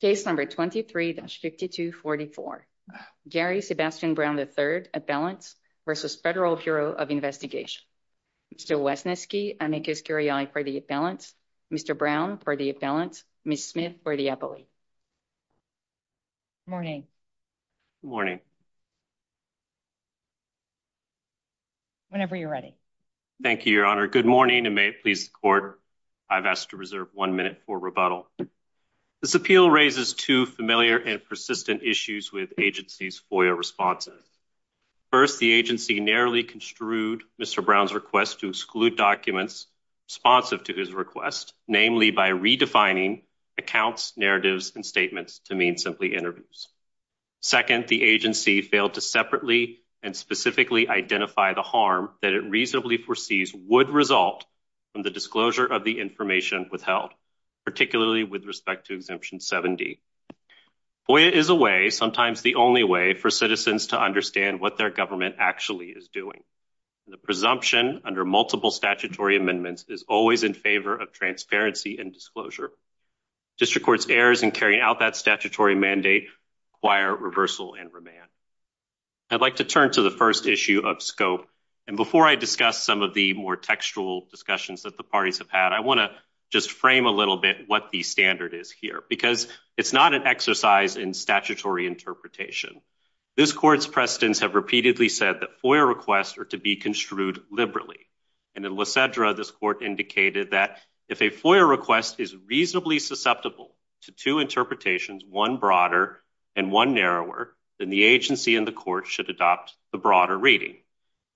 Case number 23-5244. Gary Sebastian Brown, III, Appellant v. Federal Bureau of Investigation. Mr. Wesneski, I make this carry-on for the Appellant. Mr. Brown for the Appellant. Ms. Smith for the Appellant. Good morning. Good morning. Whenever you're ready. Thank you, Your Honor. Good morning and may it please the Court. I've asked to reserve one minute for rebuttal. This appeal raises two familiar and persistent issues with the agency's FOIA responses. First, the agency narrowly construed Mr. Brown's request to exclude documents responsive to his request, namely by redefining accounts, narratives, and statements to mean simply interviews. Second, the agency failed to separately and specifically identify the harm that it reasonably foresees would result from the disclosure of the information withheld, particularly with respect to Exemption 70. FOIA is a way, sometimes the only way, for citizens to understand what their government actually is doing. The presumption under multiple statutory amendments is always in favor of transparency and disclosure. District Courts errors in carrying out that statutory mandate require reversal and remand. I'd like to turn to the first issue of scope, and before I discuss some of the more textual discussions that the parties have had, I want to just frame a little bit what the standard is here, because it's not an exercise in statutory interpretation. This Court's precedents have repeatedly said that FOIA requests are to be construed liberally, and in Lysedra, this Court indicated that if a FOIA request is reasonably susceptible to two interpretations, one broader and one narrower, then the agency and the Court should adopt the broader reading.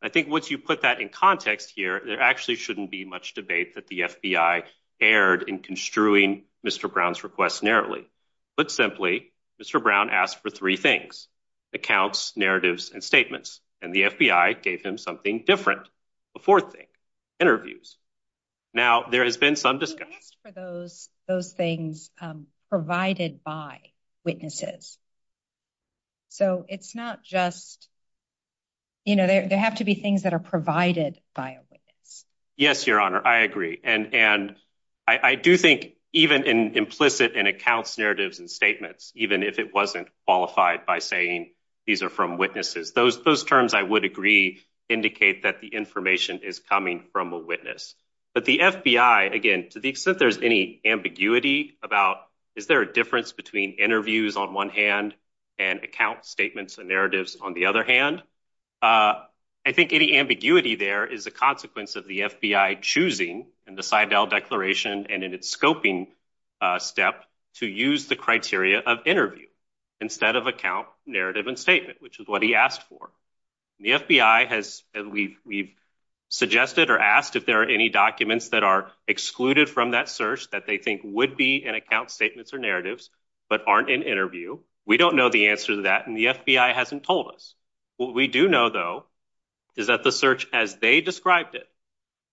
I think once you put that in context here, there actually shouldn't be much debate that the FBI erred in construing Mr. Brown's request narrowly. Put simply, Mr. Brown asked for three things, accounts, narratives, and statements, and the FBI gave him something different, a fourth thing, interviews. Now, there has been some discussion. He asked for those things provided by witnesses, so it's not just, you know, there have to be things that are provided by a witness. Yes, Your Honor, I agree, and I do think even in implicit in accounts, narratives, and statements, even if it wasn't qualified by saying these are from witnesses, those terms, I would agree, indicate that the information is coming from a witness, but the FBI, again, to the extent there's any ambiguity about is there a difference between interviews on one hand and account statements and narratives on the other hand, I think any ambiguity there is a consequence of the FBI choosing in the Seidel Declaration and in its scoping step to use the criteria of interview instead of account, narrative, and statement, which is what he asked for. The FBI has, we've suggested or asked if there are any documents that are excluded from that search that they think would be in account statements or narratives, but aren't in interview. We don't know the answer to that, and the FBI hasn't told us. What we do know, though, is that the search as they described it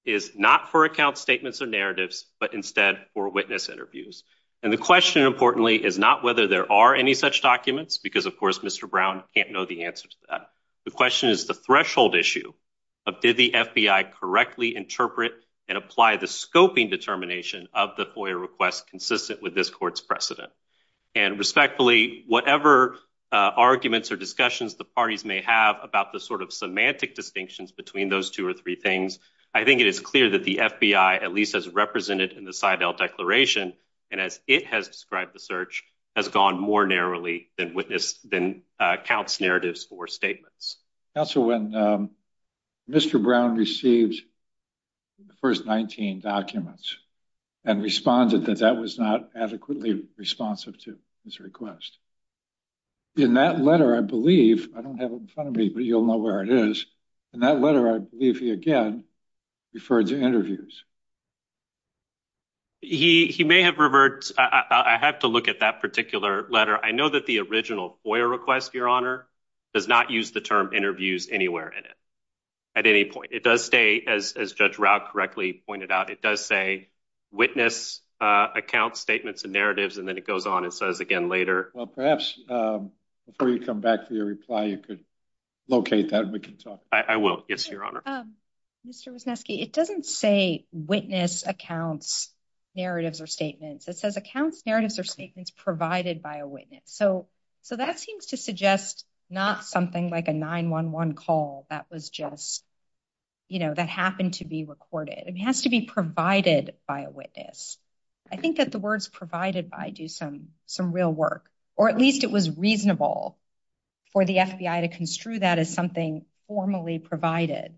is not for account statements or narratives, but instead for witness interviews, and the question, importantly, is not whether there are any such documents because, of course, Mr. Brown can't know the answer to that. The question is the threshold issue of did the FBI correctly interpret and apply the scoping determination of the FOIA request consistent with this court's precedent, and respectfully, whatever arguments or discussions the parties may have about the sort of semantic distinctions between those two or three things, I think it is clear that the FBI at least has represented in the more narrowly than accounts, narratives, or statements. Counsel, when Mr. Brown received the first 19 documents and responded that that was not adequately responsive to his request, in that letter, I believe, I don't have it in front of me, but you'll know where it is, in that letter, I believe he again referred to interviews. He may have revert. I have to look at that particular letter. I know that the original FOIA request, Your Honor, does not use the term interviews anywhere in it at any point. It does stay as Judge Rauh correctly pointed out. It does say witness accounts, statements, and narratives, and then it goes on and says again later. Well, perhaps before you come back for your reply, you could locate that and we can talk. I will, yes, Your Honor. Mr. Wisniewski, it doesn't say witness accounts, narratives, or statements. It says accounts, narratives, or statements provided by a witness. So that seems to suggest not something like a 911 call that was just, you know, that happened to be recorded. It has to be provided by a witness. I think that the words provided by do some real work, or at least it was reasonable for the FBI to construe that as something formally provided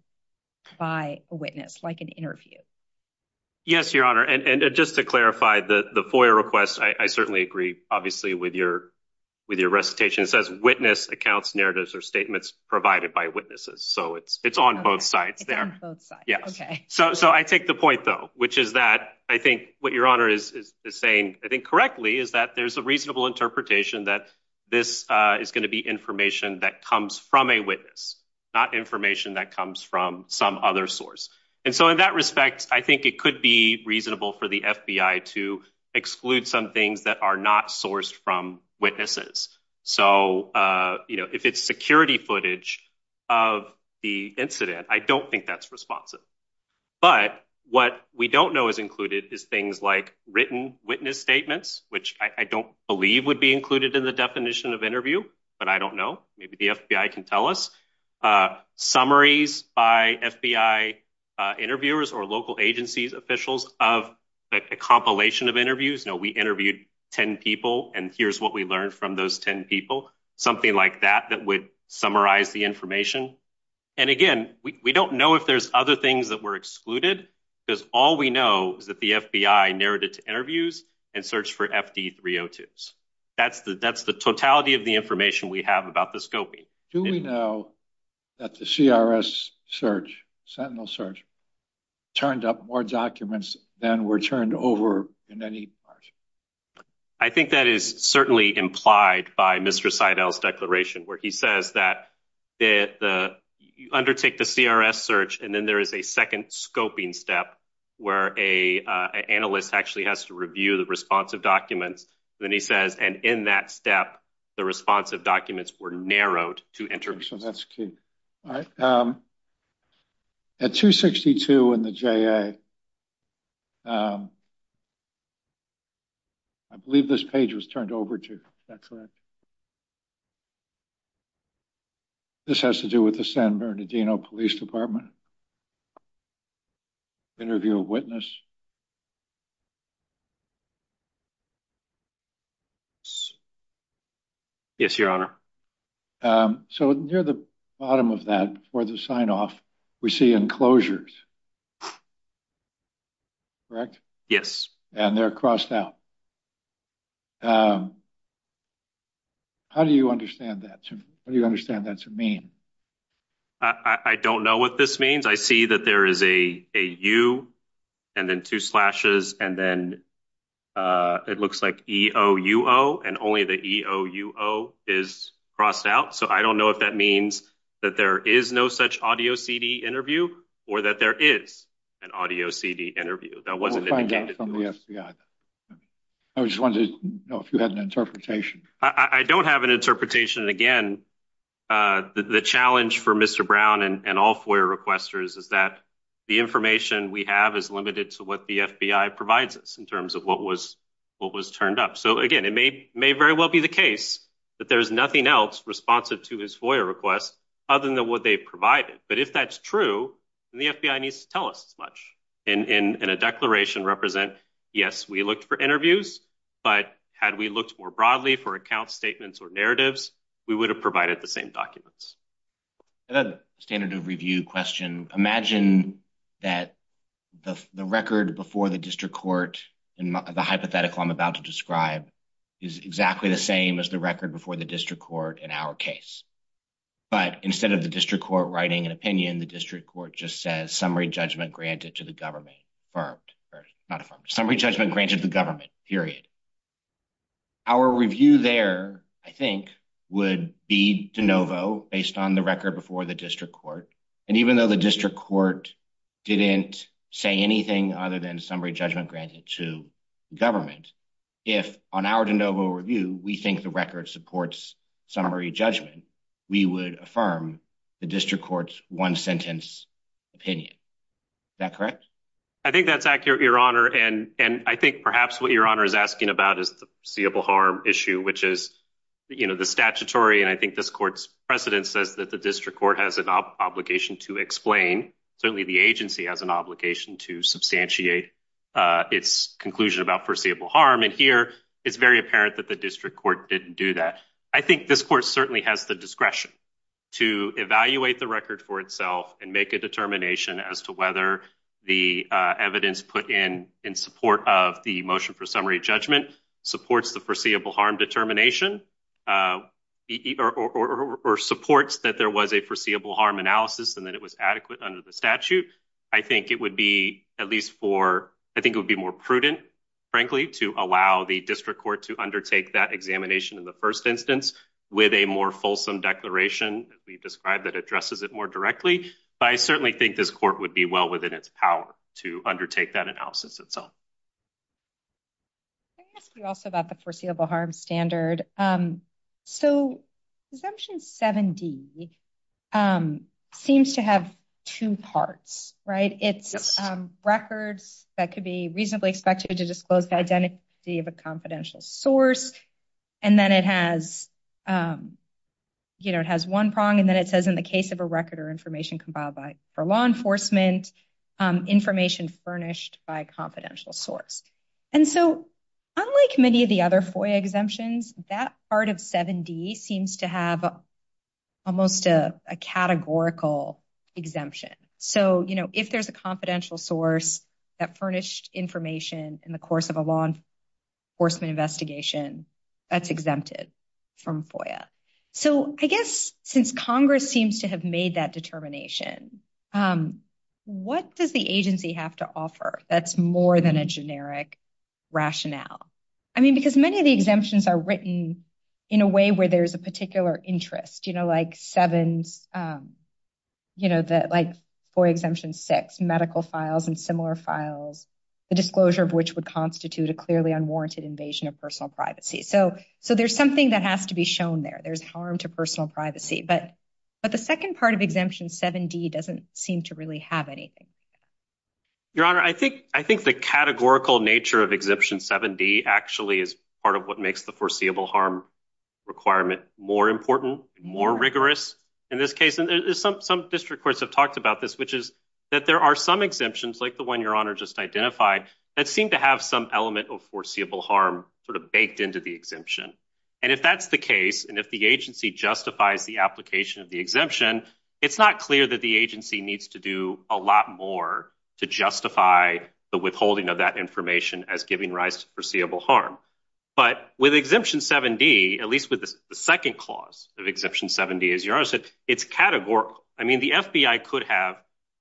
by a witness, like an interview. Yes, Your Honor, and just to clarify the FOIA request, I certainly agree obviously with your recitation. It says witness accounts, narratives, or statements provided by witnesses. So it's on both sides there. So I take the point though, which is that I think what Your Honor is saying, I think correctly, is that there's a reasonable interpretation that this is going to be information that comes from a witness, not information that comes from some other source. And so in that respect, I think it could be reasonable for the FBI to exclude some things that are not sourced from witnesses. So, you know, if it's security footage of the incident, I don't think that's responsive. But what we don't know is included is things like written witness statements, which I don't believe would be included in the definition of interview, but I don't know. Maybe the FBI can tell us. Summaries by FBI interviewers or local agencies, officials of a compilation of interviews. You know, we interviewed 10 people, and here's what we learned from those 10 people. Something like that that would summarize the information. And again, we don't know if there's other things that were excluded, because all we know is that the FBI narrowed it to interviews and searched for FD 302s. That's the that's the totality of the information we have about the scoping. Do we know that the CRS search sentinel search turned up more documents than were turned over in any part? I think that is certainly implied by Mr. Seidel's declaration where he says that the undertake the CRS search, and then there is a second scoping step where a analyst actually has to review the responsive documents. Then he says, and in that step, the responsive documents were narrowed to enter. So that's key. All right. At 262 in the J. I believe this page was turned over to that's right. This has to do with the San Bernardino Police Department. Interview a witness. Yes, your honor. So near the bottom of that for the sign off, we see enclosures. Correct? Yes. And they're crossed out. How do you understand that? Do you understand that to mean? I don't know what this means. I see that there is a you and then two slashes and then it looks like E. O. U. O. and only the E. O. U. O. is crossed out. So I don't know if that means that there is no such audio CD interview or that there is an audio CD interview. That wasn't from the FBI. I just wanted to know if you had an interpretation. I don't have an interpretation. And again, the challenge for Mr. Brown and all FOIA requesters is that the information we have is limited to what the FBI provides us in terms of what was what was turned up. So, again, it may may very well be the case that there is nothing else responsive to his FOIA request other than what they provided. But if that's true, the FBI needs to tell us as much in a declaration represent. Yes, we looked for interviews, but had we looked more broadly for account statements or narratives, we would have provided the same documents. Standard of review question. Imagine that the record before the district court and the hypothetical I'm about to describe is exactly the same as the record before the district court in our case. But instead of the district court writing an opinion, the district court just says summary judgment granted to the government for not a summary judgment granted the government period. Our review there, I think, would be de novo based on the record before the district court. And even though the district court didn't say anything other than summary judgment granted to government, if on our de novo review, we think the record supports summary judgment, we would affirm the district court's one sentence opinion. Is that correct? I think that's accurate, Your Honor. And I think perhaps what Your Honor is asking about is the seeable harm issue, which is, you know, the statutory. And I think this court's precedent says that the district court has an obligation to explain. Certainly, the agency has an obligation to substantiate its conclusion about foreseeable harm. And here, it's very apparent that the district court didn't do that. I think this court certainly has the discretion to evaluate the record for itself and make a determination as to whether the evidence put in in support of the motion for summary judgment supports the foreseeable harm determination or supports that there was a foreseeable harm analysis and that it was under the statute. I think it would be at least for I think it would be more prudent, frankly, to allow the district court to undertake that examination in the first instance with a more fulsome declaration that we've described that addresses it more directly. But I certainly think this court would be well within its power to undertake that analysis itself. Can I ask you also about the foreseeable harm standard? So, Assumption 7D seems to have two parts, right? It's records that could be reasonably expected to disclose the identity of a confidential source. And then it has, you know, it has one prong and then it says in the case of a record or information compiled by for law enforcement, information furnished by a confidential source. And so, unlike many of the other FOIA exemptions, that part of 7D seems to have almost a categorical exemption. So, you know, if there's a confidential source that furnished information in the course of a law enforcement investigation, that's exempted from FOIA. So, I guess since Congress seems to have made that determination, what does the agency have to offer that's more than a generic rationale? I mean, because many of the exemptions are written in a way where there's a particular interest, you know, like 7s, you know, that like FOIA exemption 6, medical files and similar files, the disclosure of which would constitute a clearly unwarranted invasion of personal privacy. So, there's something that has to be shown there. There's harm to personal privacy. But the second part of Exemption 7D doesn't seem to really have anything. Your Honor, I think the categorical nature of Exemption 7D actually is part of what makes the foreseeable harm requirement more important, more rigorous in this case. And some district courts have talked about this, which is that there are some exemptions, like the one Your Honor just identified, that seem to have some element of foreseeable harm sort of baked into the exemption. And if that's the case, and if the agency justifies the application of the exemption, it's not clear that the agency needs to do a lot more to justify the withholding of that information as giving rise to foreseeable harm. But with Exemption 7D, at least with the second clause of Exemption 7D, as Your Honor said, it's categorical. I mean, the FBI could have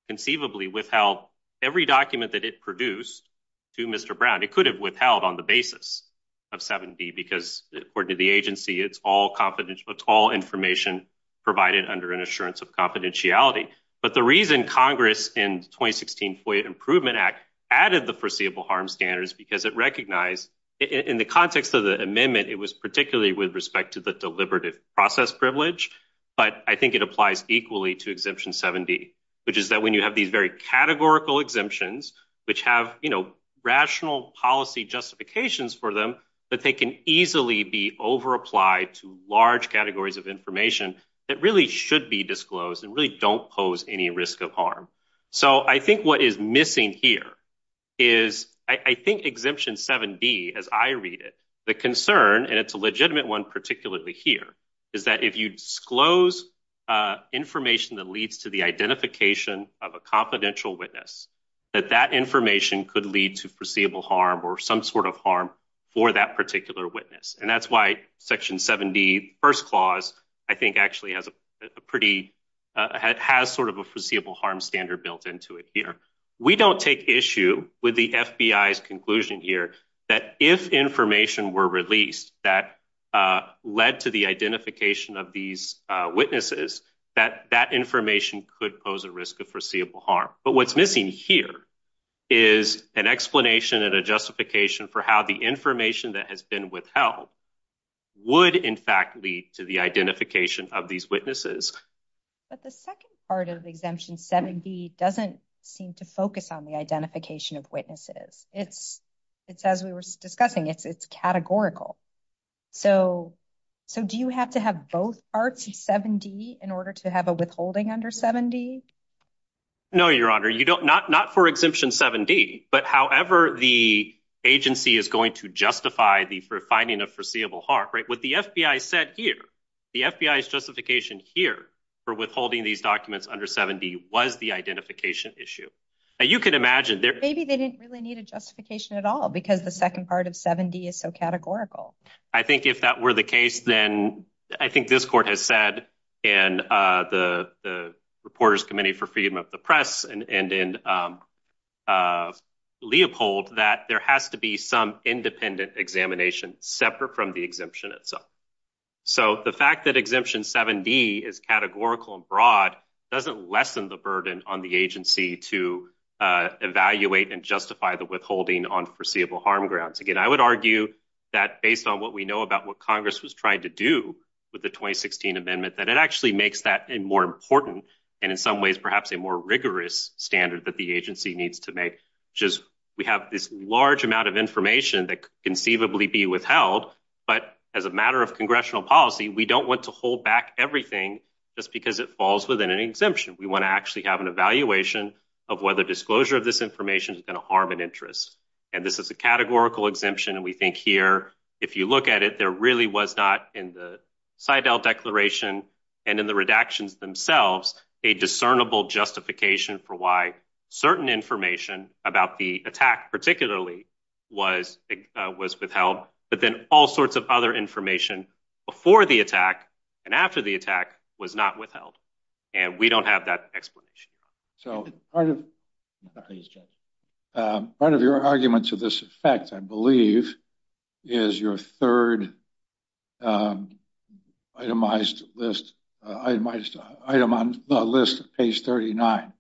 conceivably withheld every document that it produced to Mr. Brown. It could have withheld on the basis of 7D because, according to the agency, it's all confidential. It's all information provided under an assurance of confidentiality. But the reason Congress in the 2016 FOIA Improvement Act added the foreseeable harm standards is because it recognized, in the context of the amendment, it was particularly with respect to the deliberative process privilege. But I think it applies equally to Exemption 7D, which is that when you have these very categorical exemptions, which have rational policy justifications for them, that they can easily be overapplied to large categories of information that really should be disclosed and really don't pose any risk of harm. So I think what is missing here is, I think Exemption 7D, as I read it, the concern, and it's a legitimate one particularly here, is that if you disclose information that leads to the identification of a confidential witness, that that information could lead to foreseeable harm or some sort of harm for that particular witness. And that's why Section 7D, the first clause, I think actually has a pretty, has sort of a foreseeable harm standard built into it here. We don't take issue with the FBI's conclusion here that if information were released that led to the identification of these witnesses, that that information could pose a risk of foreseeable harm. But what's missing here is an explanation and a justification for how the information that has been withheld would in fact lead to the identification of these witnesses. But the second part of Exemption 7D doesn't seem to focus on the identification of witnesses. It's, as we were discussing, it's categorical. So do you have to have both parts of 7D in order to have a withholding under 7D? No, Your Honor. You don't, not for Exemption 7D, but however the agency is going to justify the finding of foreseeable harm, right? What the FBI said here, the FBI's justification here for withholding these documents under 7D was the identification issue. Now you can imagine there. Maybe they didn't really need a justification at all because the second part of 7D is so categorical. I think if that were the case, then I think this court has said and the Reporters Committee for Freedom of the Press and Leopold that there has to be some independent examination separate from the exemption itself. So the fact that Exemption 7D is categorical and broad doesn't lessen the burden on the agency to evaluate and justify the withholding on foreseeable harm grounds. Again, I would argue that based on what we know about what Congress was trying to do with the 2016 amendment, that it actually makes that more important and in some ways perhaps a more rigorous standard that the agency needs to make. We have this large amount of information that could conceivably be withheld, but as a matter of congressional policy, we don't want to hold back everything just because it falls within an exemption. We want to actually have an evaluation of whether disclosure of this information is going to harm an interest. And this is a categorical exemption and we think here if you look at it, there really was not in the Seidel Declaration and in the redactions themselves a discernible justification for why certain information about the attack particularly was withheld, but then all sorts of other information before the attack and after the attack was not withheld. And we don't have that explanation. So part of your argument to this effect, I believe, is your third itemized item on the list, page 39,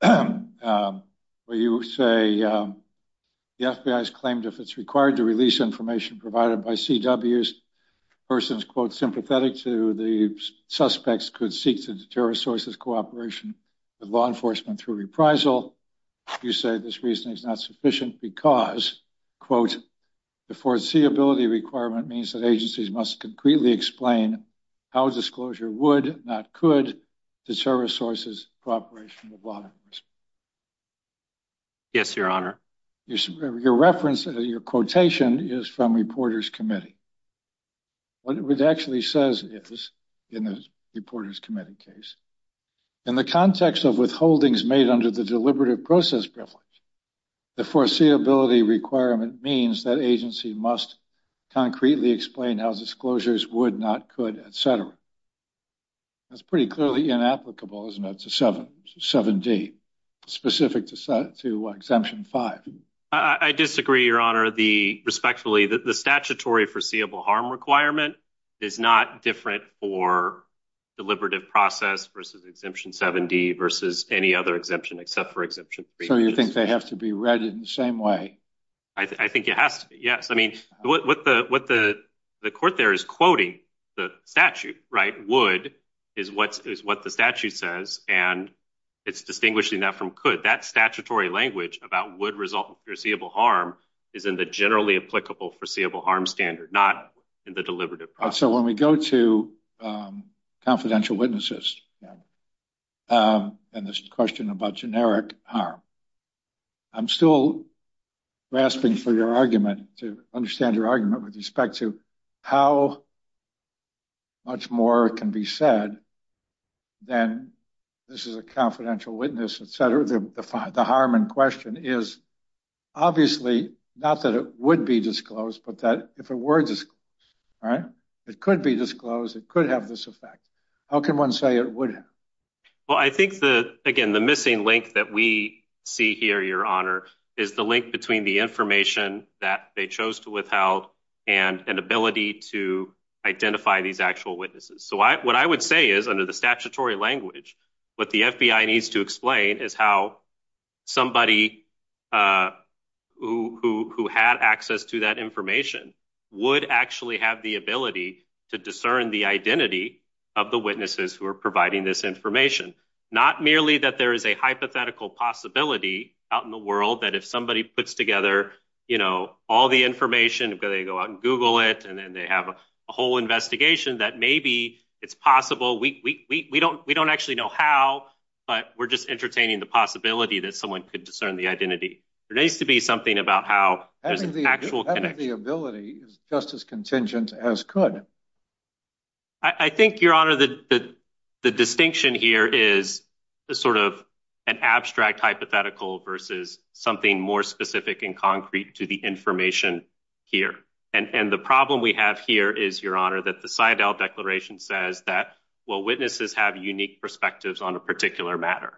where you say the FBI has claimed if it's required to release information provided by CWs, persons, quote, sympathetic to the suspects could seek to deter sources cooperation with law enforcement through reprisal. You say this reasoning is not sufficient because, quote, the foreseeability requirement means that agencies must concretely explain how disclosure would, not could, deter a source's cooperation with law enforcement. Yes, your honor. Your reference, your quotation is from Reporters Committee. What it actually says is, in the Reporters Committee case, in the context of withholdings made under the deliberative process privilege, the foreseeability requirement means that agency must concretely explain how disclosures would, not could, etc. That's pretty clearly inapplicable, isn't it, to 7D, specific to Exemption 5. I disagree, your honor. Respectfully, the statutory foreseeable harm requirement is not different for deliberative process versus Exemption 7D versus any other exemption except for Exemption 3. So you think they have to be in the same way? I think it has to be, yes. I mean, what the court there is quoting, the statute, right, would, is what the statute says, and it's distinguishing that from could. That statutory language about would result in foreseeable harm is in the generally applicable foreseeable harm standard, not in the deliberative process. So when we go to confidential witnesses and this question about generic harm, I'm still grasping for your argument to understand your argument with respect to how much more can be said than this is a confidential witness, etc. The harm in question is obviously not that it would be disclosed, but that if it was disclosed, it could be disclosed, it could have this effect. How can one say it would? Well, I think, again, the missing link that we see here, your honor, is the link between the information that they chose to withhold and an ability to identify these actual witnesses. So what I would say is, under the statutory language, what the FBI needs to explain is how somebody who had access to that information would actually have the ability to discern the identity of the witnesses who are providing this information. Not merely that there is a hypothetical possibility out in the world that if somebody puts together, you know, all the information, they go out and Google it, and then they have a whole investigation, that maybe it's possible, we don't actually know how, but we're just entertaining the possibility that someone could discern the identity. There needs to be something about how there's an actual connection. Having the ability is just as contingent as could. I think, your honor, that the distinction here is sort of an abstract hypothetical versus something more specific and concrete to the information here. And the problem we have here is, your honor, that the Seidel Declaration says that, well, witnesses have unique perspectives on a particular matter.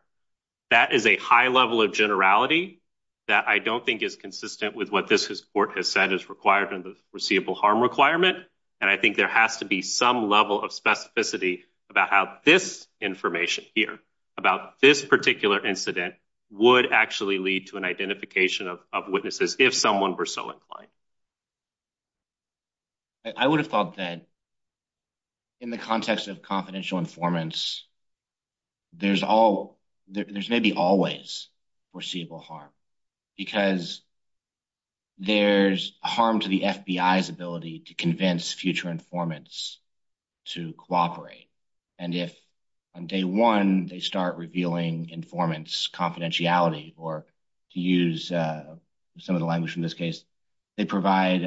That is a high level of generality that I don't think is consistent with what this court has said is required in the receivable harm requirement. And I think there has to be some level of specificity about how this information here, about this particular incident, would actually lead to an identification of witnesses if someone were so inclined. I would have thought that, in the context of confidential informants, there's maybe always receivable harm, because there's harm to the FBI's ability to convince future informants to cooperate. And if on day one, they start revealing informants' confidentiality, or to use some of the language in this case, they provide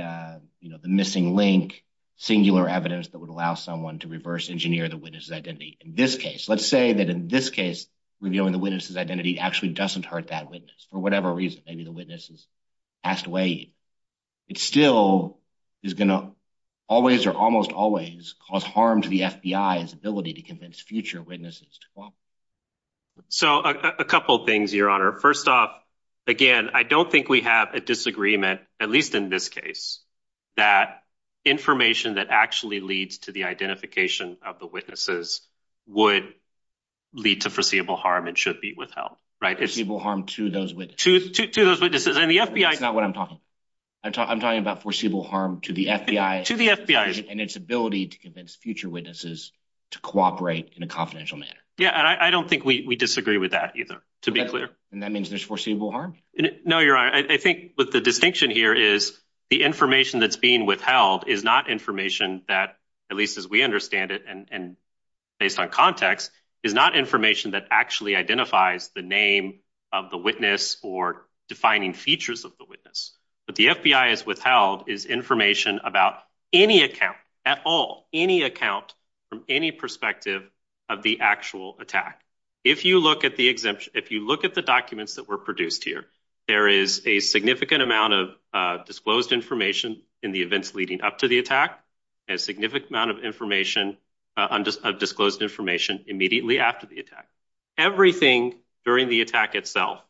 the missing link, singular evidence that would allow someone to reverse engineer the witness's identity in this case. Let's say that in this case, revealing the witness's identity actually doesn't hurt that witness for whatever reason. Maybe the witness has passed away. It still is going to always or almost always cause harm to the FBI's ability to convince future witnesses to cooperate. So a couple of things, Your Honor. First off, again, I don't think we have a disagreement, at least in this case, that information that actually leads to the identification of the witnesses would lead to foreseeable harm and should be withheld. Foreseeable harm to those witnesses. To those witnesses. That's not what I'm talking about. I'm talking about foreseeable harm to the FBI and its ability to convince future witnesses to cooperate in a confidential manner. Yeah, I don't think we disagree with that either, to be clear. And that means there's foreseeable harm? No, Your Honor. I think what the distinction here is, the information that's being withheld is not information that, at least as we understand it and based on context, is not information that actually identifies the name of the witness or defining features of the witness. What the FBI has withheld is information about any account, at all, any account from any perspective of the actual attack. If you look at the exemption, if you look at the documents that were produced here, there is a significant amount of disclosed information in the events leading up to the attack and a significant amount of information, of disclosed information immediately after the attack. Everything during the attack itself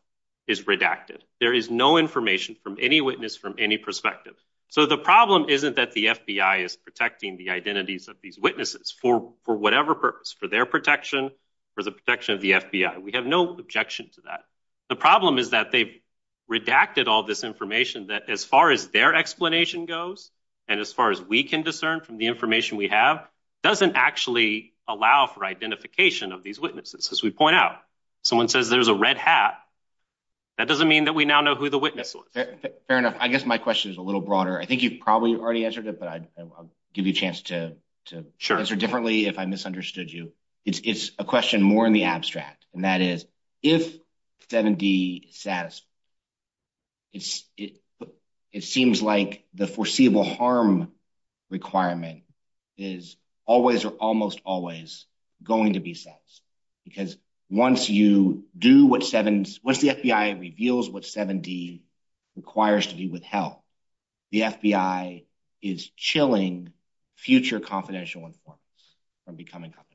is redacted. There is no information from any witness from any perspective. So the problem isn't that the FBI is protecting the identities of these witnesses for whatever purpose, for their protection, for the protection of the FBI. We have no objection to that. The problem is that they've redacted all this information that, as far as their explanation goes and as far as we can discern from the information we have, doesn't actually allow for identification of these witnesses. As we point out, someone says there's a red hat, that doesn't mean that we now know who the witness was. Fair enough. I guess my question is a little broader. I think you've probably already answered it, but I'll give you a chance to answer differently if I misunderstood you. It's a question more in the abstract, and that is, if 7D is satisfied, it seems like the foreseeable harm requirement is always or almost always going to be satisfied. Because once you do what 7D, once the FBI reveals what 7D requires to be withheld, the FBI is chilling future confidential informants from becoming confidential.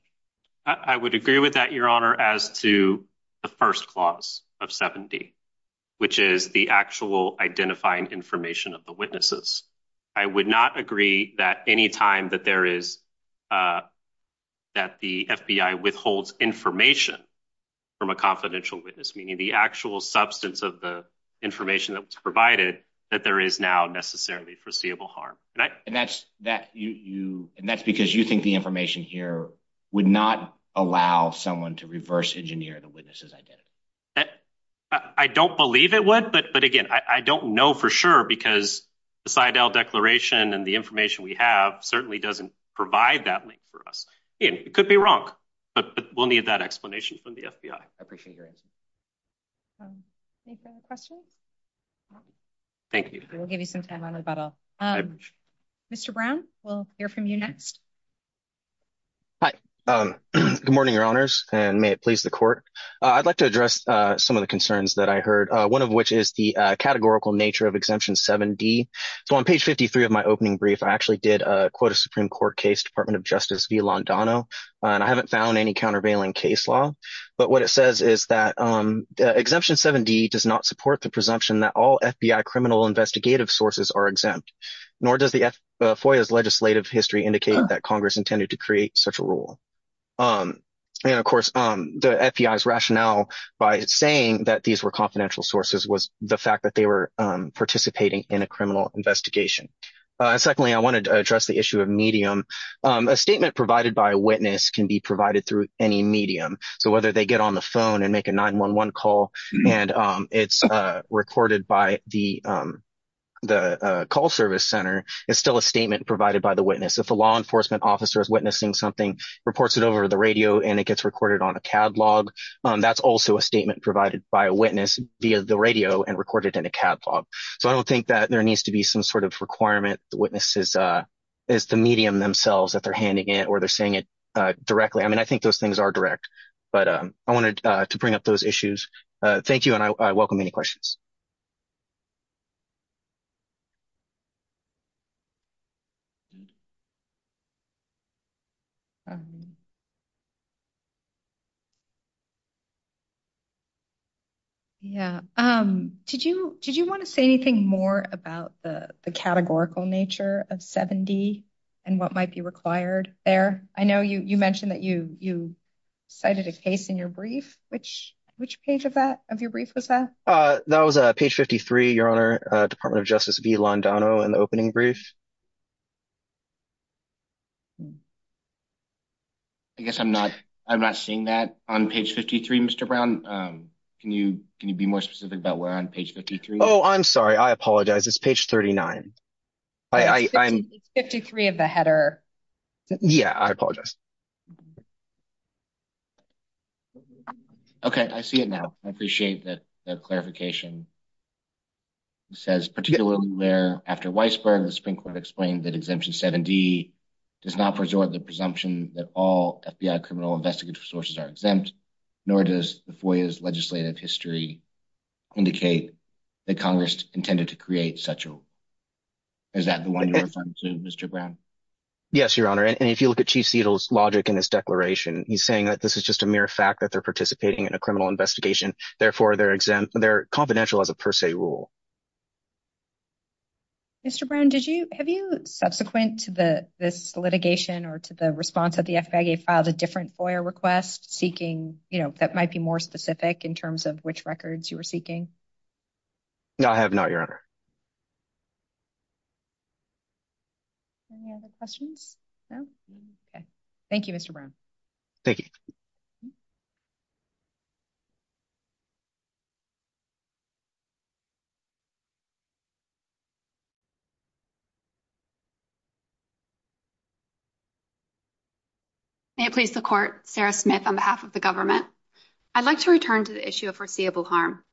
I would agree with that, your honor, as to the first clause of 7D, which is the actual identifying information of the witnesses. I would not agree that any time that there is, that the FBI withholds information from a confidential witness, meaning the actual substance of the information that was provided, that there is now necessarily foreseeable harm. And that's because you think the information here would not allow someone to reverse engineer the witness's identity. I don't believe it would, but again, I don't know for sure because the Seidel Declaration and the information we have certainly doesn't provide that link for us. It could be wrong, but we'll need that explanation from the FBI. I appreciate your answer. Any further questions? Thank you. We'll give you some time on rebuttal. Mr. Brown, we'll hear from you next. Hi. Good morning, your honors, and may it please the court. I'd like to address some of the concerns that I heard, one of which is the categorical nature of exemption 7D. So on page 53 of my opening brief, I actually did quote a Supreme Court case, Department of Justice v. Londano, and I haven't found any countervailing case law. But what it says is that exemption 7D does not support the presumption that all FBI criminal investigative sources are exempt, nor does the FOIA's legislative history indicate that Congress intended to create such a rule. And of course, the FBI's rationale by saying that these were confidential sources was the fact that they were participating in a criminal investigation. Secondly, I wanted to address the issue of medium. A statement provided by a witness can be provided through any medium. So whether they get on the phone and make a 911 call and it's recorded by the call service center, it's still a statement provided by the witness. If a law enforcement officer is witnessing something, reports it over the radio, and it gets recorded on a CAD log, that's also a statement provided by a witness via the radio and recorded in a CAD log. So I don't think that there needs to be some sort of requirement. The witness is the medium themselves that they're handing it or they're saying it directly. I mean, I think those things are direct, but I wanted to bring up those issues. Thank you, and I welcome any questions. Yeah. Did you want to say anything more about the categorical nature of 7D and what might be required there? I know you mentioned that you cited a case in your brief. Which page of your brief was that? That was page 53, Your Honor, Department of Justice v. Londano in the opening brief. I guess I'm not seeing that on page 53, Mr. Brown. Can you be more specific about where on page 53? Oh, I'm sorry. I apologize. It's page 39. It's 53 of the header. Yeah, I apologize. Okay, I see it now. I appreciate that clarification. It says, particularly where, after Weisberg, the Supreme Court explained that Exemption 7D does not preserve the presumption that all FBI criminal investigative sources are exempt, nor does the FOIA's legislative history indicate that Congress intended to create such a rule. Is that the one you're referring to, Mr. Brown? Yes, Your Honor, and if you look at Chief Siegel's logic in his declaration, he's saying that this is just a mere fact that they're participating in a criminal investigation, therefore they're confidential as a per se rule. Mr. Brown, have you, subsequent to this litigation or to the response of the FBI, filed a different FOIA request seeking, you know, that might be more specific in terms of which records you were seeking? No, I have not, Your Honor. Any other questions? No? Okay. Thank you, Mr. Brown. Thank you. May it please the Court, Sarah Smith, on behalf of the government. I'd like to return to the issue of foreseeable harm.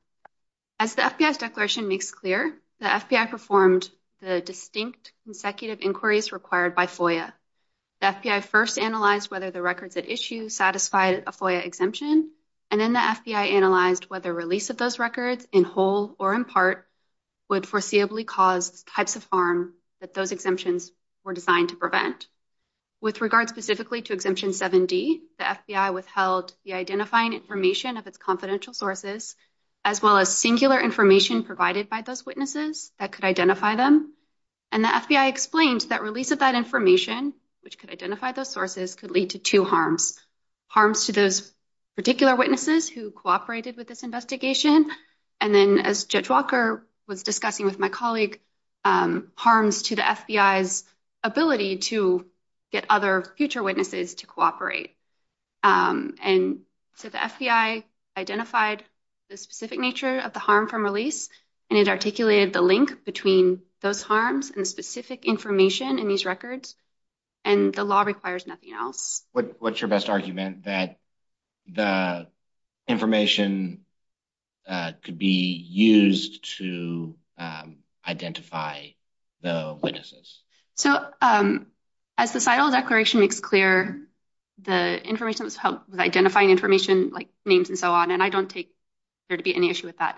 As the FBI's declaration makes clear, the FBI performed the distinct consecutive inquiries required by FOIA. The FBI first analyzed whether the records at issue satisfied a specific FOIA requirement. The FBI then analyzed whether the records at issue a FOIA exemption, and then the FBI analyzed whether release of those records, in whole or in part, would foreseeably cause types of harm that those exemptions were designed to prevent. With regard specifically to Exemption 7D, the FBI withheld the identifying information of its confidential sources, as well as singular information provided by those witnesses that could identify them, and the FBI explained that release of that information, which could particular witnesses who cooperated with this investigation, and then, as Judge Walker was discussing with my colleague, harms to the FBI's ability to get other future witnesses to cooperate. So the FBI identified the specific nature of the harm from release, and it articulated the link between those harms and the specific information in these records, and the law requires nothing else. What's your best argument, that the information could be used to identify the witnesses? So, as the CITL declaration makes clear, the information was helped with identifying information, like names and so on, and I don't take there to be any issue with that.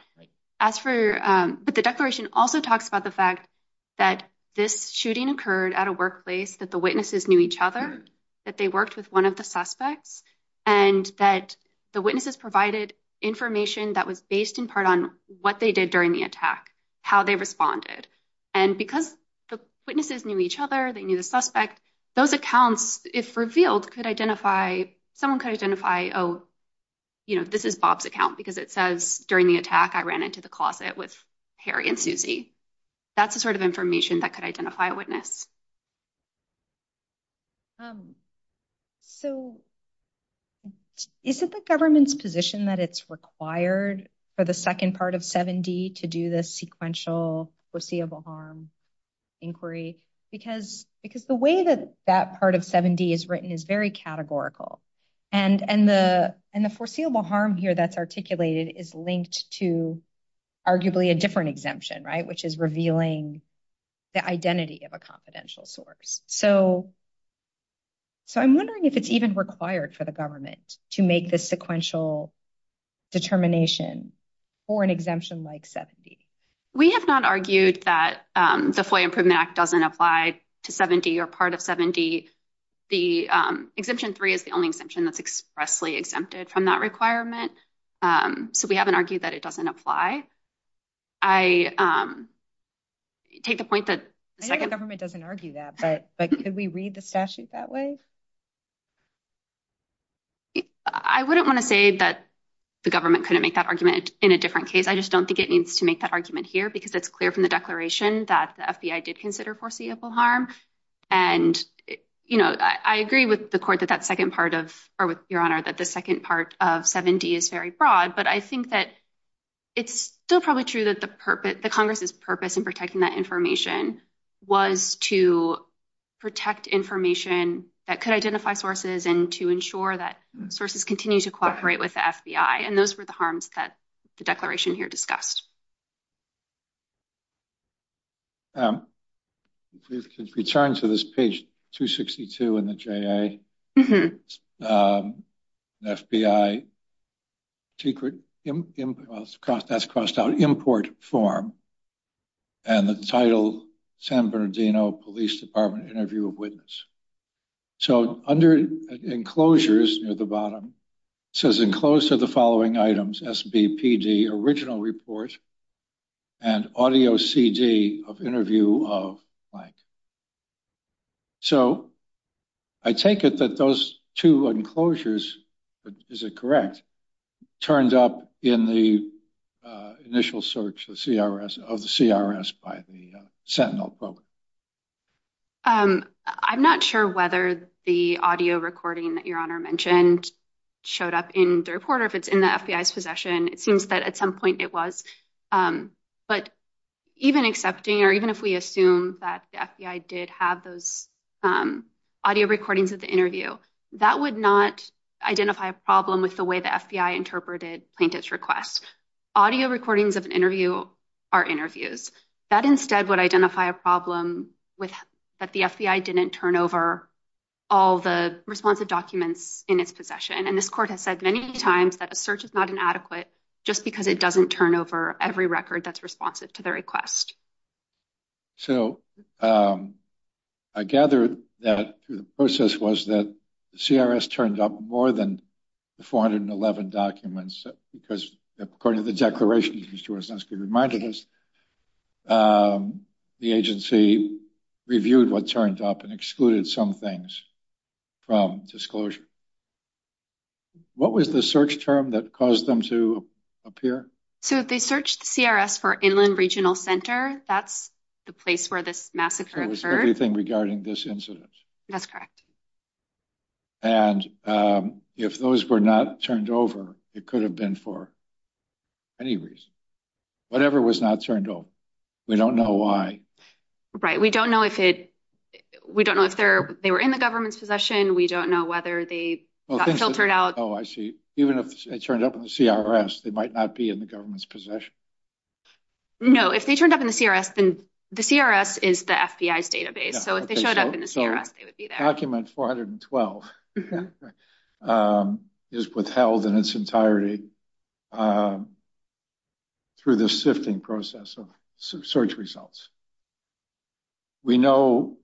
As for, but the declaration also talks about the fact that this shooting occurred at a workplace, that the witnesses knew each other, that they worked with one of the suspects, and that the witnesses provided information that was based in part on what they did during the attack, how they responded, and because the witnesses knew each other, they knew the suspect, those accounts, if revealed, could identify, someone could identify, oh, you know, this is Bob's account, because it says, during the attack, I ran into the closet with Harry and Susie. That's the sort of thing. So, is it the government's position that it's required for the second part of 7D to do this sequential foreseeable harm inquiry? Because the way that that part of 7D is written is very categorical, and the foreseeable harm here that's articulated is linked to arguably a different exemption, right, which is revealing the identity of a confidential source. So, so I'm wondering if it's even required for the government to make this sequential determination for an exemption like 7D. We have not argued that the FOIA Improvement Act doesn't apply to 7D or part of 7D. The Exemption 3 is the only exemption that's expressly exempted from that requirement. So, we haven't argued that it doesn't apply. I take the point that the government doesn't argue that, but could we read the statute that way? I wouldn't want to say that the government couldn't make that argument in a different case. I just don't think it needs to make that argument here, because it's clear from the declaration that the FBI did consider foreseeable harm. And, you know, I agree with the court that that second part of 7D is very broad, but I think that it's still probably true that the purpose, the Congress's purpose in protecting that information was to protect information that could identify sources and to ensure that sources continue to cooperate with the FBI, and those were the harms that the declaration here discussed. If we could return to this page 262 in the JA, the FBI secret, well, that's crossed out, import form, and the title, San Bernardino Police Department Interview of Witness. So, under enclosures near the bottom, it says, enclosed are the following items, SBPD, original report, and audio CD of interview of blank. So, I take it that those two enclosures, is it correct, turned up in the initial search of the CRS by the Sentinel program? I'm not sure whether the audio recording that Your Honor mentioned showed up in the reporter, if it's in the FBI's possession. It seems that at some point it was, but even accepting, or even if we assume that the FBI did have those audio recordings of the interview, that would not identify a problem with the way the FBI interpreted plaintiff's request. Audio recordings of an interview are interviews. That instead would identify a problem that the FBI didn't turn over all the responsive documents in its possession. And this court has said many times that a search is not inadequate just because it doesn't turn over every record that's responsive to the request. So, I gather that the process was that the CRS turned up more than the 411 documents, because according to the declaration, as Ms. Jaworsnowski reminded us, the agency reviewed what turned up and excluded some things from disclosure. What was the search term that caused them to appear? So, they searched the CRS for Inland Regional Center. That's the place where this massacre occurred. So, it was everything regarding this incident. That's correct. And if those were not turned over, it could have been for any reason. Whatever was not turned over. We don't know why. Right. We don't know if they were in the government's possession. We don't know whether they got filtered out. Oh, I see. Even if it turned up in the CRS, they might not be in the government's possession. No. If they turned up in the CRS, then the CRS is the FBI's database. So, if they showed up in the CRS, they would be there. Document 412 is withheld in its entirety through the sifting process of search results. We know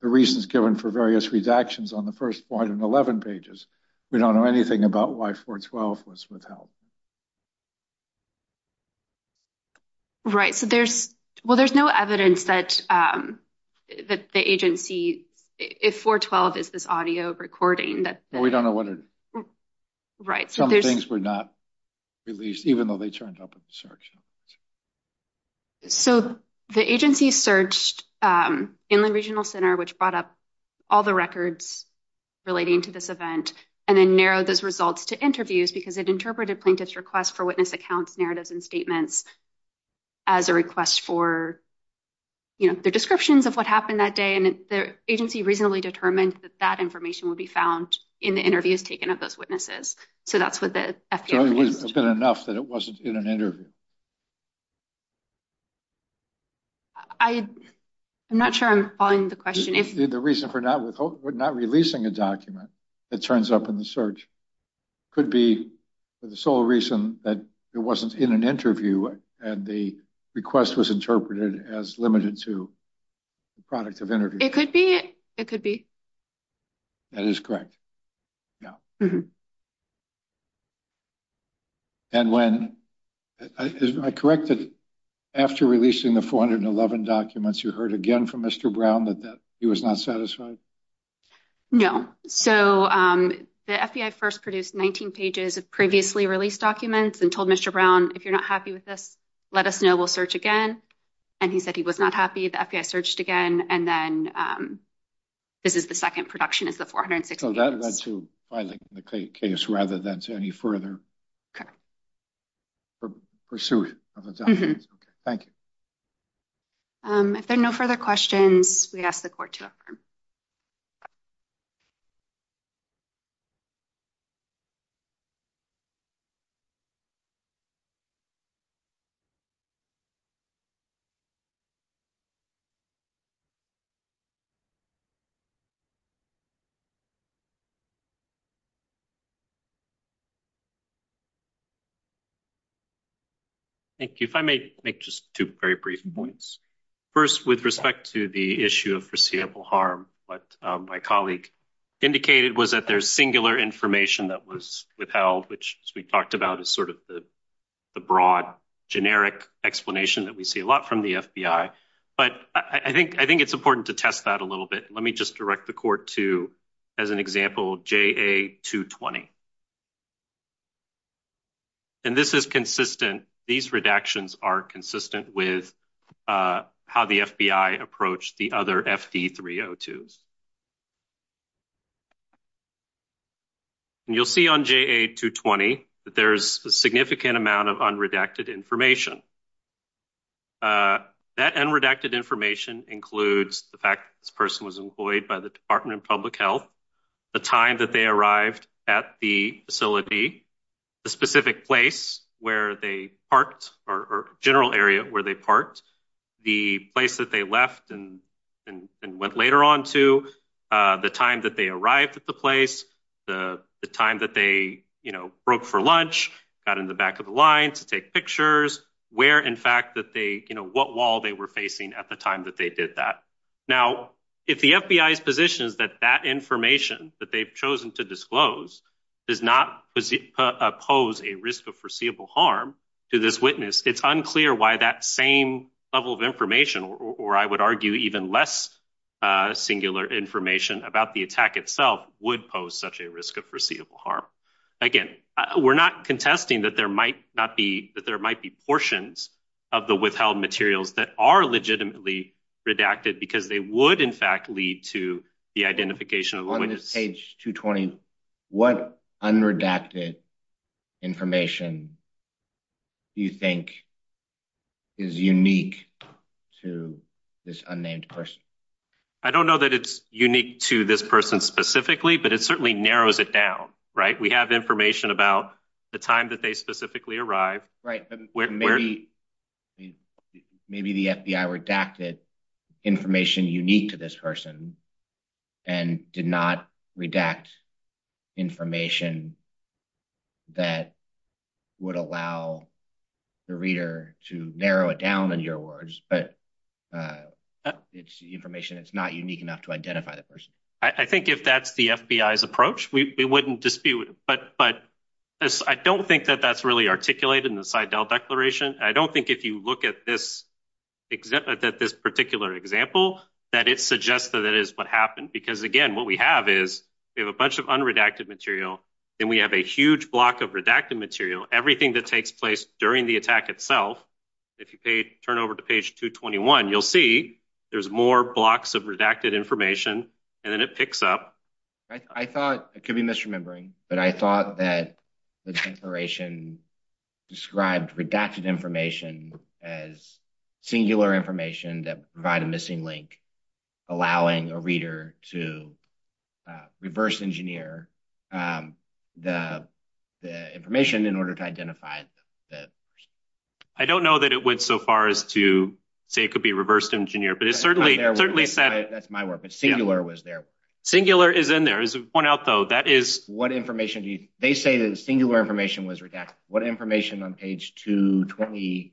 the reasons given for various redactions on the first 411 pages. We don't know anything about why 412 was withheld. Right. So, there's, well, there's no evidence that the agency, if 412 is this audio recording that... Well, we don't know what it... Right. Some things were not released, even though they turned up in the search results. So, the agency searched Inland Regional Center, which brought up all the records relating to this event, and then narrowed those results to interviews, because it interpreted probably plaintiff's request for witness accounts, narratives, and statements as a request for, you know, their descriptions of what happened that day, and the agency reasonably determined that that information would be found in the interviews taken of those witnesses. So, that's what the FBI... So, it would have been enough that it wasn't in an interview? I'm not sure I'm following the question. The reason for not releasing a document that turns up in the search could be the sole reason that it wasn't in an interview, and the request was interpreted as limited to the product of interviews. It could be. It could be. That is correct. Yeah. And when... I correct that after releasing the 411 documents, you heard again from Mr. Brown that he was not satisfied? No. So, the FBI first produced 19 pages of previously released documents and told Mr. Brown, if you're not happy with this, let us know. We'll search again. And he said he was not happy. The FBI searched again, and then this is the second production, is the 416. So, that led to filing the case rather than to any further pursuit of the documents. Okay. Thank you. If there are no further questions, we ask the Court to affirm. Thank you. If I may make just two very brief points. First, with respect to the issue of harm, what my colleague indicated was that there's singular information that was withheld, which we talked about as sort of the broad, generic explanation that we see a lot from the FBI. But I think it's important to test that a little bit. Let me just direct the Court to, as an example, JA-220. And this is consistent. These redactions are consistent with how the FBI approached the other FD-302s. You'll see on JA-220 that there's a significant amount of unredacted information. That unredacted information includes the fact that this person was employed by the Department of Public Health, the time that they arrived at the facility, the specific place where they parked, or general area where they parked, the place that they left and went later on to, the time that they arrived at the place, the time that they, you know, broke for lunch, got in the back of the line to take pictures, where in fact that they, you know, what wall they were facing at the time that they did that. Now, if the FBI's position is that that information that they've chosen to disclose does not pose a risk of foreseeable harm to this witness, it's unclear why that same level of information, or I would argue even less singular information about the attack itself, would pose such a risk of foreseeable harm. Again, we're not contesting that there might be portions of the withheld materials that are legitimately redacted because they would, in fact, lead to the identification of the witness. On this page 220, what unredacted information do you think is unique to this unnamed person? I don't know that it's unique to this person specifically, but it certainly narrows it down, right? We have information about the time that they specifically arrived. Right, but maybe the FBI redacted information unique to this person and did not redact information that would allow the reader to narrow it down, in your words, but it's information that's not unique enough to identify the person. I think if that's the FBI's approach, we wouldn't dispute it, but I don't think that that's really articulated in the Seidel Declaration. I don't think if you look at this example, that this particular example, that it suggests that that is what happened, because again, what we have is we have a bunch of unredacted material, then we have a huge block of redacted material. Everything that takes place during the attack itself, if you turn over to page 221, you'll see there's more blocks of redacted information, and then it picks up. I thought, it could be misremembering, but I thought that the Declaration described redacted information as singular information that provide a missing link, allowing a reader to reverse engineer the information in order to identify the person. I don't know that it went so far as to say it could be reversed engineer, but it certainly said it. That's my word, but singular was there. Singular is in there. As we've pointed out, though, that is... What information do you... They say that the singular information was redacted. What information on page 220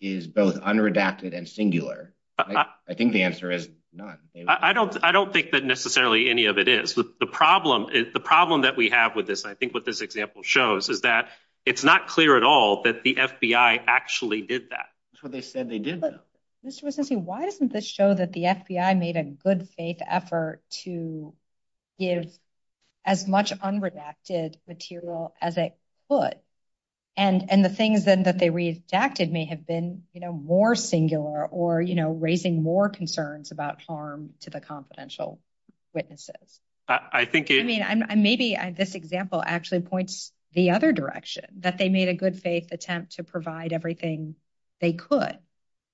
is both unredacted and singular? I think the answer is none. I don't think that necessarily any of it is. The problem that we have with this, I think what this example shows, is that it's not clear at all that the FBI actually did that. That's what they said they did, though. Why doesn't this show that the FBI made a good faith effort to give as much unredacted material as it could, and the things then that they redacted may have been more singular or raising more concerns about harm to the confidential witnesses? Maybe this example actually points the other direction, that they made a good faith attempt to provide everything they could.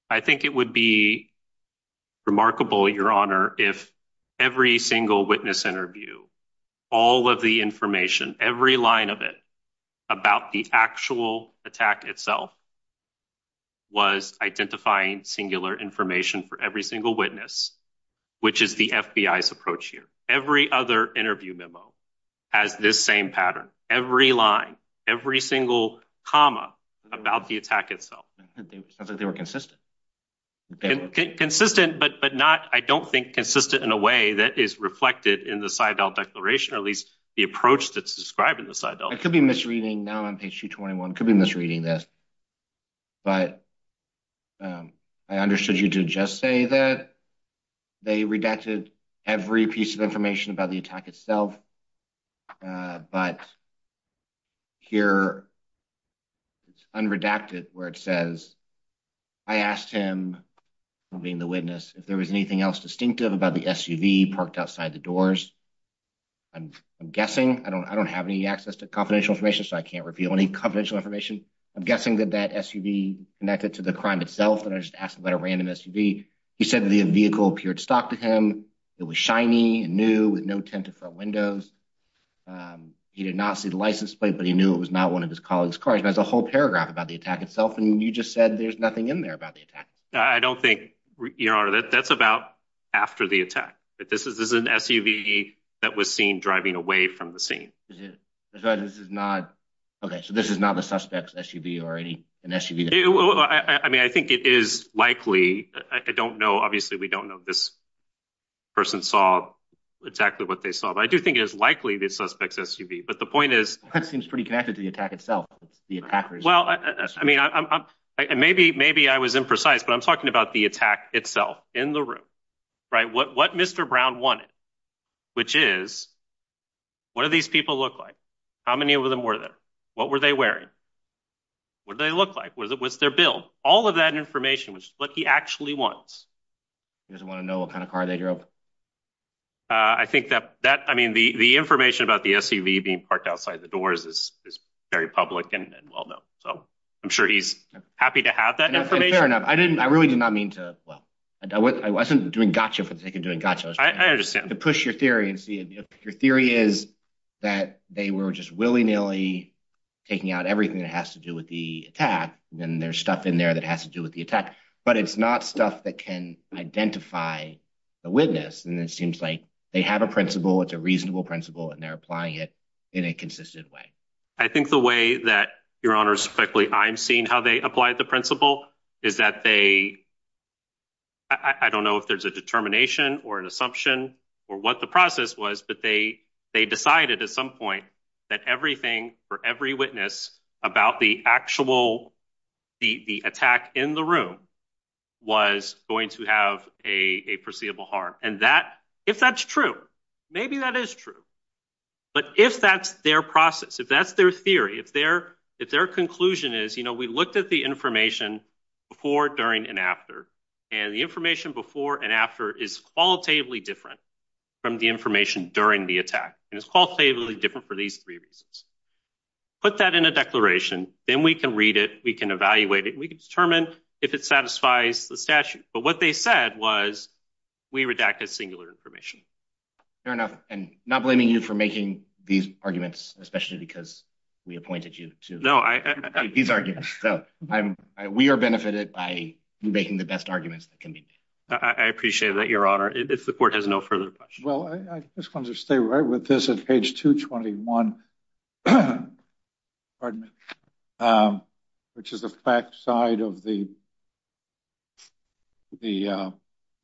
I think it would be remarkable, Your Honor, if every single witness interview, all of the information, every line of it about the actual attack itself, was identifying singular information for every single witness, which is the FBI's approach here. Every other interview memo has this same pattern. Every line, every single comma about the attack itself. It sounds like they were consistent. Consistent, but not, I don't think, consistent in a way that is reflected in the Seidel Declaration, or at least the approach that's described in the Seidel. I could be misreading now on page 221, could be misreading this, but I understood you to just say that they redacted every piece of about the attack itself. But here, it's unredacted where it says, I asked him, being the witness, if there was anything else distinctive about the SUV parked outside the doors. I'm guessing, I don't have any access to confidential information, so I can't reveal any confidential information. I'm guessing that that SUV connected to the crime itself, and I just asked about a random SUV. He said the vehicle appeared stock to him. It was shiny, new, with no tinted front windows. He did not see the license plate, but he knew it was not one of his colleague's cars. There's a whole paragraph about the attack itself, and you just said there's nothing in there about the attack. I don't think, Your Honor, that's about after the attack. This is an SUV that was seen driving away from the scene. This is not, okay, so this is not the suspect's SUV already? I mean, I think it is likely. I don't know. Obviously, we don't know. This saw exactly what they saw, but I do think it is likely the suspect's SUV, but the point is- That seems pretty connected to the attack itself, the attackers. Well, I mean, maybe I was imprecise, but I'm talking about the attack itself in the room, right? What Mr. Brown wanted, which is, what do these people look like? How many of them were there? What were they wearing? What did they look like? What's their bill? All of that information was what he actually wants. He doesn't want to know what kind of car they drove. I think that, I mean, the information about the SUV being parked outside the doors is very public and well-known, so I'm sure he's happy to have that information. Fair enough. I really did not mean to, well, I wasn't doing gotcha for the sake of doing gotcha. I understand. To push your theory and see if your theory is that they were just willy-nilly taking out everything that has to do with the attack, and there's stuff in there that has to do with the seems like they have a principle, it's a reasonable principle, and they're applying it in a consistent way. I think the way that, Your Honor, specifically I'm seeing how they applied the principle is that they, I don't know if there's a determination or an assumption or what the process was, but they decided at some point that everything for every witness about the actual, the attack in the room was going to have a perceivable harm. And that, if that's true, maybe that is true. But if that's their process, if that's their theory, if their conclusion is, you know, we looked at the information before, during, and after, and the information before and after is qualitatively different from the information during the attack. And it's qualitatively different for these three reasons. Put that in a declaration, then we can read it, we can evaluate it, and we can determine if it satisfies the statute. But what they said was, we redacted singular information. Fair enough. And not blaming you for making these arguments, especially because we appointed you to these arguments. So we are benefited by making the best arguments that can be made. I appreciate that, Your Honor. If the court has no further questions. Well, I just want to stay right with this at page 221, pardon me, which is the back side of the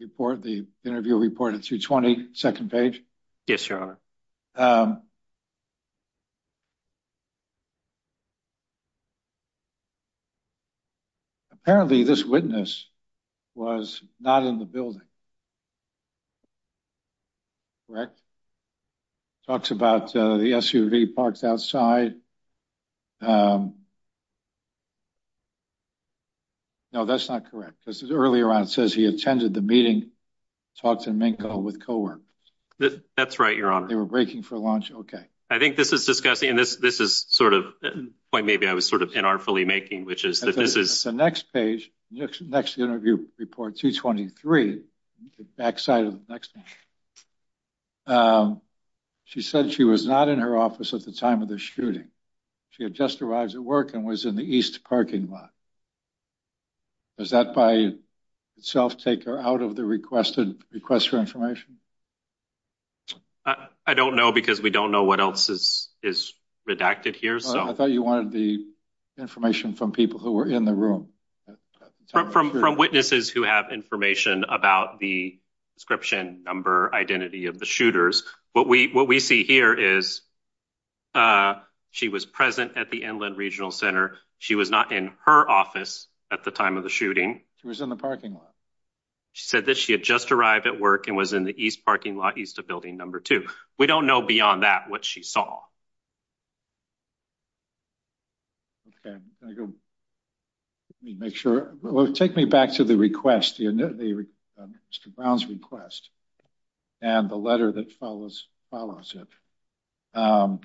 report, the interview report at 220, second page. Yes, Your Honor. Apparently, this witness was not in the building. Correct. Talks about the SUV parked outside. No, that's not correct. This is earlier on. It says he attended the meeting, talked to Minko with coworkers. That's right, Your Honor. They were breaking for lunch. Okay. I think this is discussing, and this is sort of a point maybe I was sort of inartfully making, which is that this is. The next page, next interview report, 223, the back side of the next page. Um, she said she was not in her office at the time of the shooting. She had just arrived at work and was in the east parking lot. Does that by itself take her out of the requested request for information? I don't know, because we don't know what else is is redacted here. So I thought you wanted the information from people who were in the room from witnesses who have information about the description, number, identity of the shooters. What we what we see here is, uh, she was present at the Inland Regional Center. She was not in her office at the time of the shooting. She was in the parking lot. She said that she had just arrived at work and was in the east parking lot east of building number two. We don't know beyond that what she saw. Okay, I'm going to go, let me make sure, well, take me back to the request, you know, the Mr. Brown's request and the letter that follows, follows it. Um,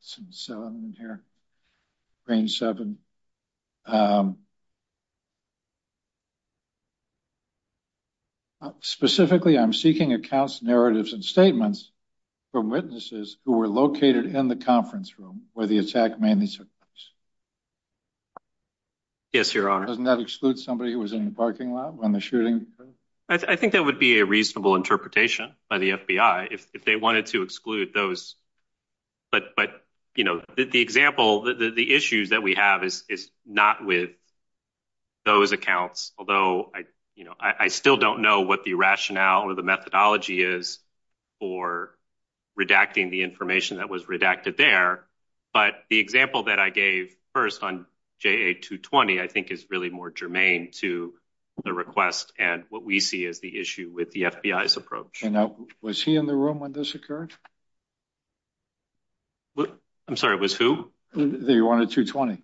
so I'm in here, brain seven. Specifically, I'm seeking accounts, narratives and statements from witnesses who were located in the conference room where the attack mainly took place. Yes, Your Honor. Doesn't that exclude somebody who was in the parking lot when the shooting occurred? I think that would be a reasonable interpretation by the FBI if they wanted to exclude those. But, but, you know, the example, the issues that we have is not with those accounts. Although I, you know, I still don't know what the rationale or the methodology is for redacting the information that was redacted there. But the example that I gave first on JA220, I think, is really more germane to the request and what we see as the issue with the FBI's approach. And was he in the room when this occurred? I'm sorry, it was who? The one at 220.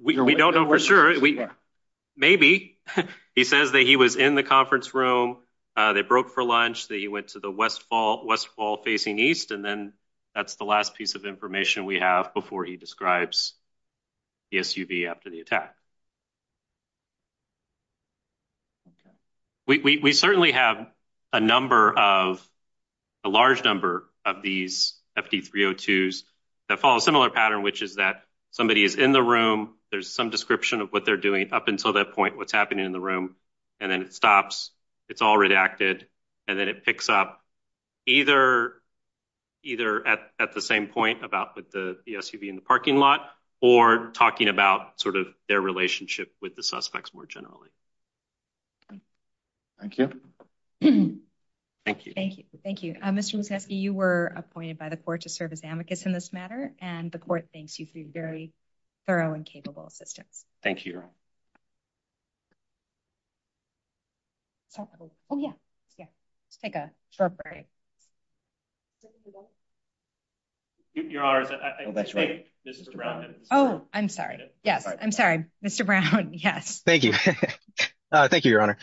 We don't know for sure. Maybe he says that he was in the conference room. They broke for lunch, that he went to the West Fall, West Fall facing east. And then that's the last piece of information we have before he describes the SUV after the attack. We certainly have a number of, a large number of these FD302s that follow a similar pattern, which is that somebody is in the room. There's some description of what they're doing up until that point, what's happening in the room. And then it stops. It's all redacted. And then it picks up either at the same point about the SUV in the parking lot or talking about sort of their relationship with the suspects more generally. Thank you. Thank you. Thank you. Mr. Musanski, you were appointed by the court to serve as amicus in this matter. And the court thanks you for your very thorough and capable assistance. Thank you. Oh, yeah, yeah. Let's take a short break. Your Honor, I think Mr. Brown. Oh, I'm sorry. Yes, I'm sorry. Mr. Brown, yes. Thank you. Thank you, Your Honor.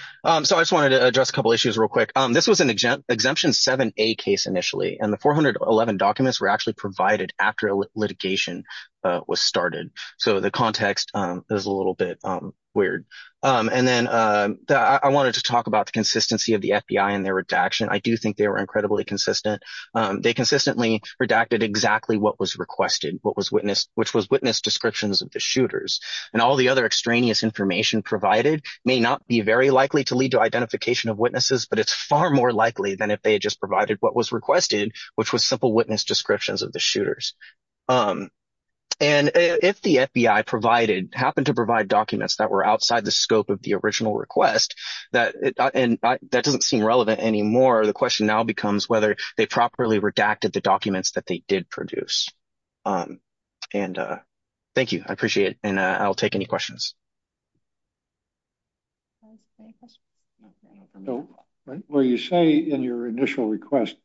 So I just wanted to address a couple issues real quick. This was an exemption 7A case initially. And the 411 documents were actually provided after litigation was started. So the context is a little bit weird. And then I wanted to talk about the consistency of the FBI and their redaction. I do think they were incredibly consistent. They consistently redacted exactly what was requested, which was witness descriptions of the shooters. And all the other extraneous information provided may not be very likely to lead to identification of witnesses. But it's far more likely than if they had just provided what was requested, which was simple witness descriptions of the shooters. And if the FBI happened to provide documents that were outside the scope of the original request, and that doesn't seem relevant anymore, the question now becomes whether they properly redacted the documents that they did produce. And thank you. I appreciate it. And I'll take any questions. Well, you say in your initial request,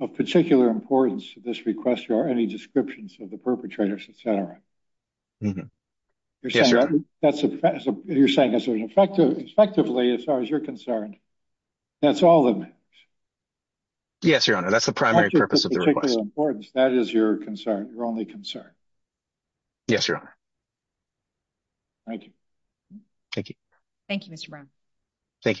of particular importance to this request, there are any descriptions of the perpetrators, etc. You're saying effectively, as far as you're concerned, that's all it means? Yes, Your Honor. That's the primary purpose of the request. That is your concern, your only concern. Yes, Your Honor. Thank you. Thank you. Thank you, Mr. Brown. Thank you.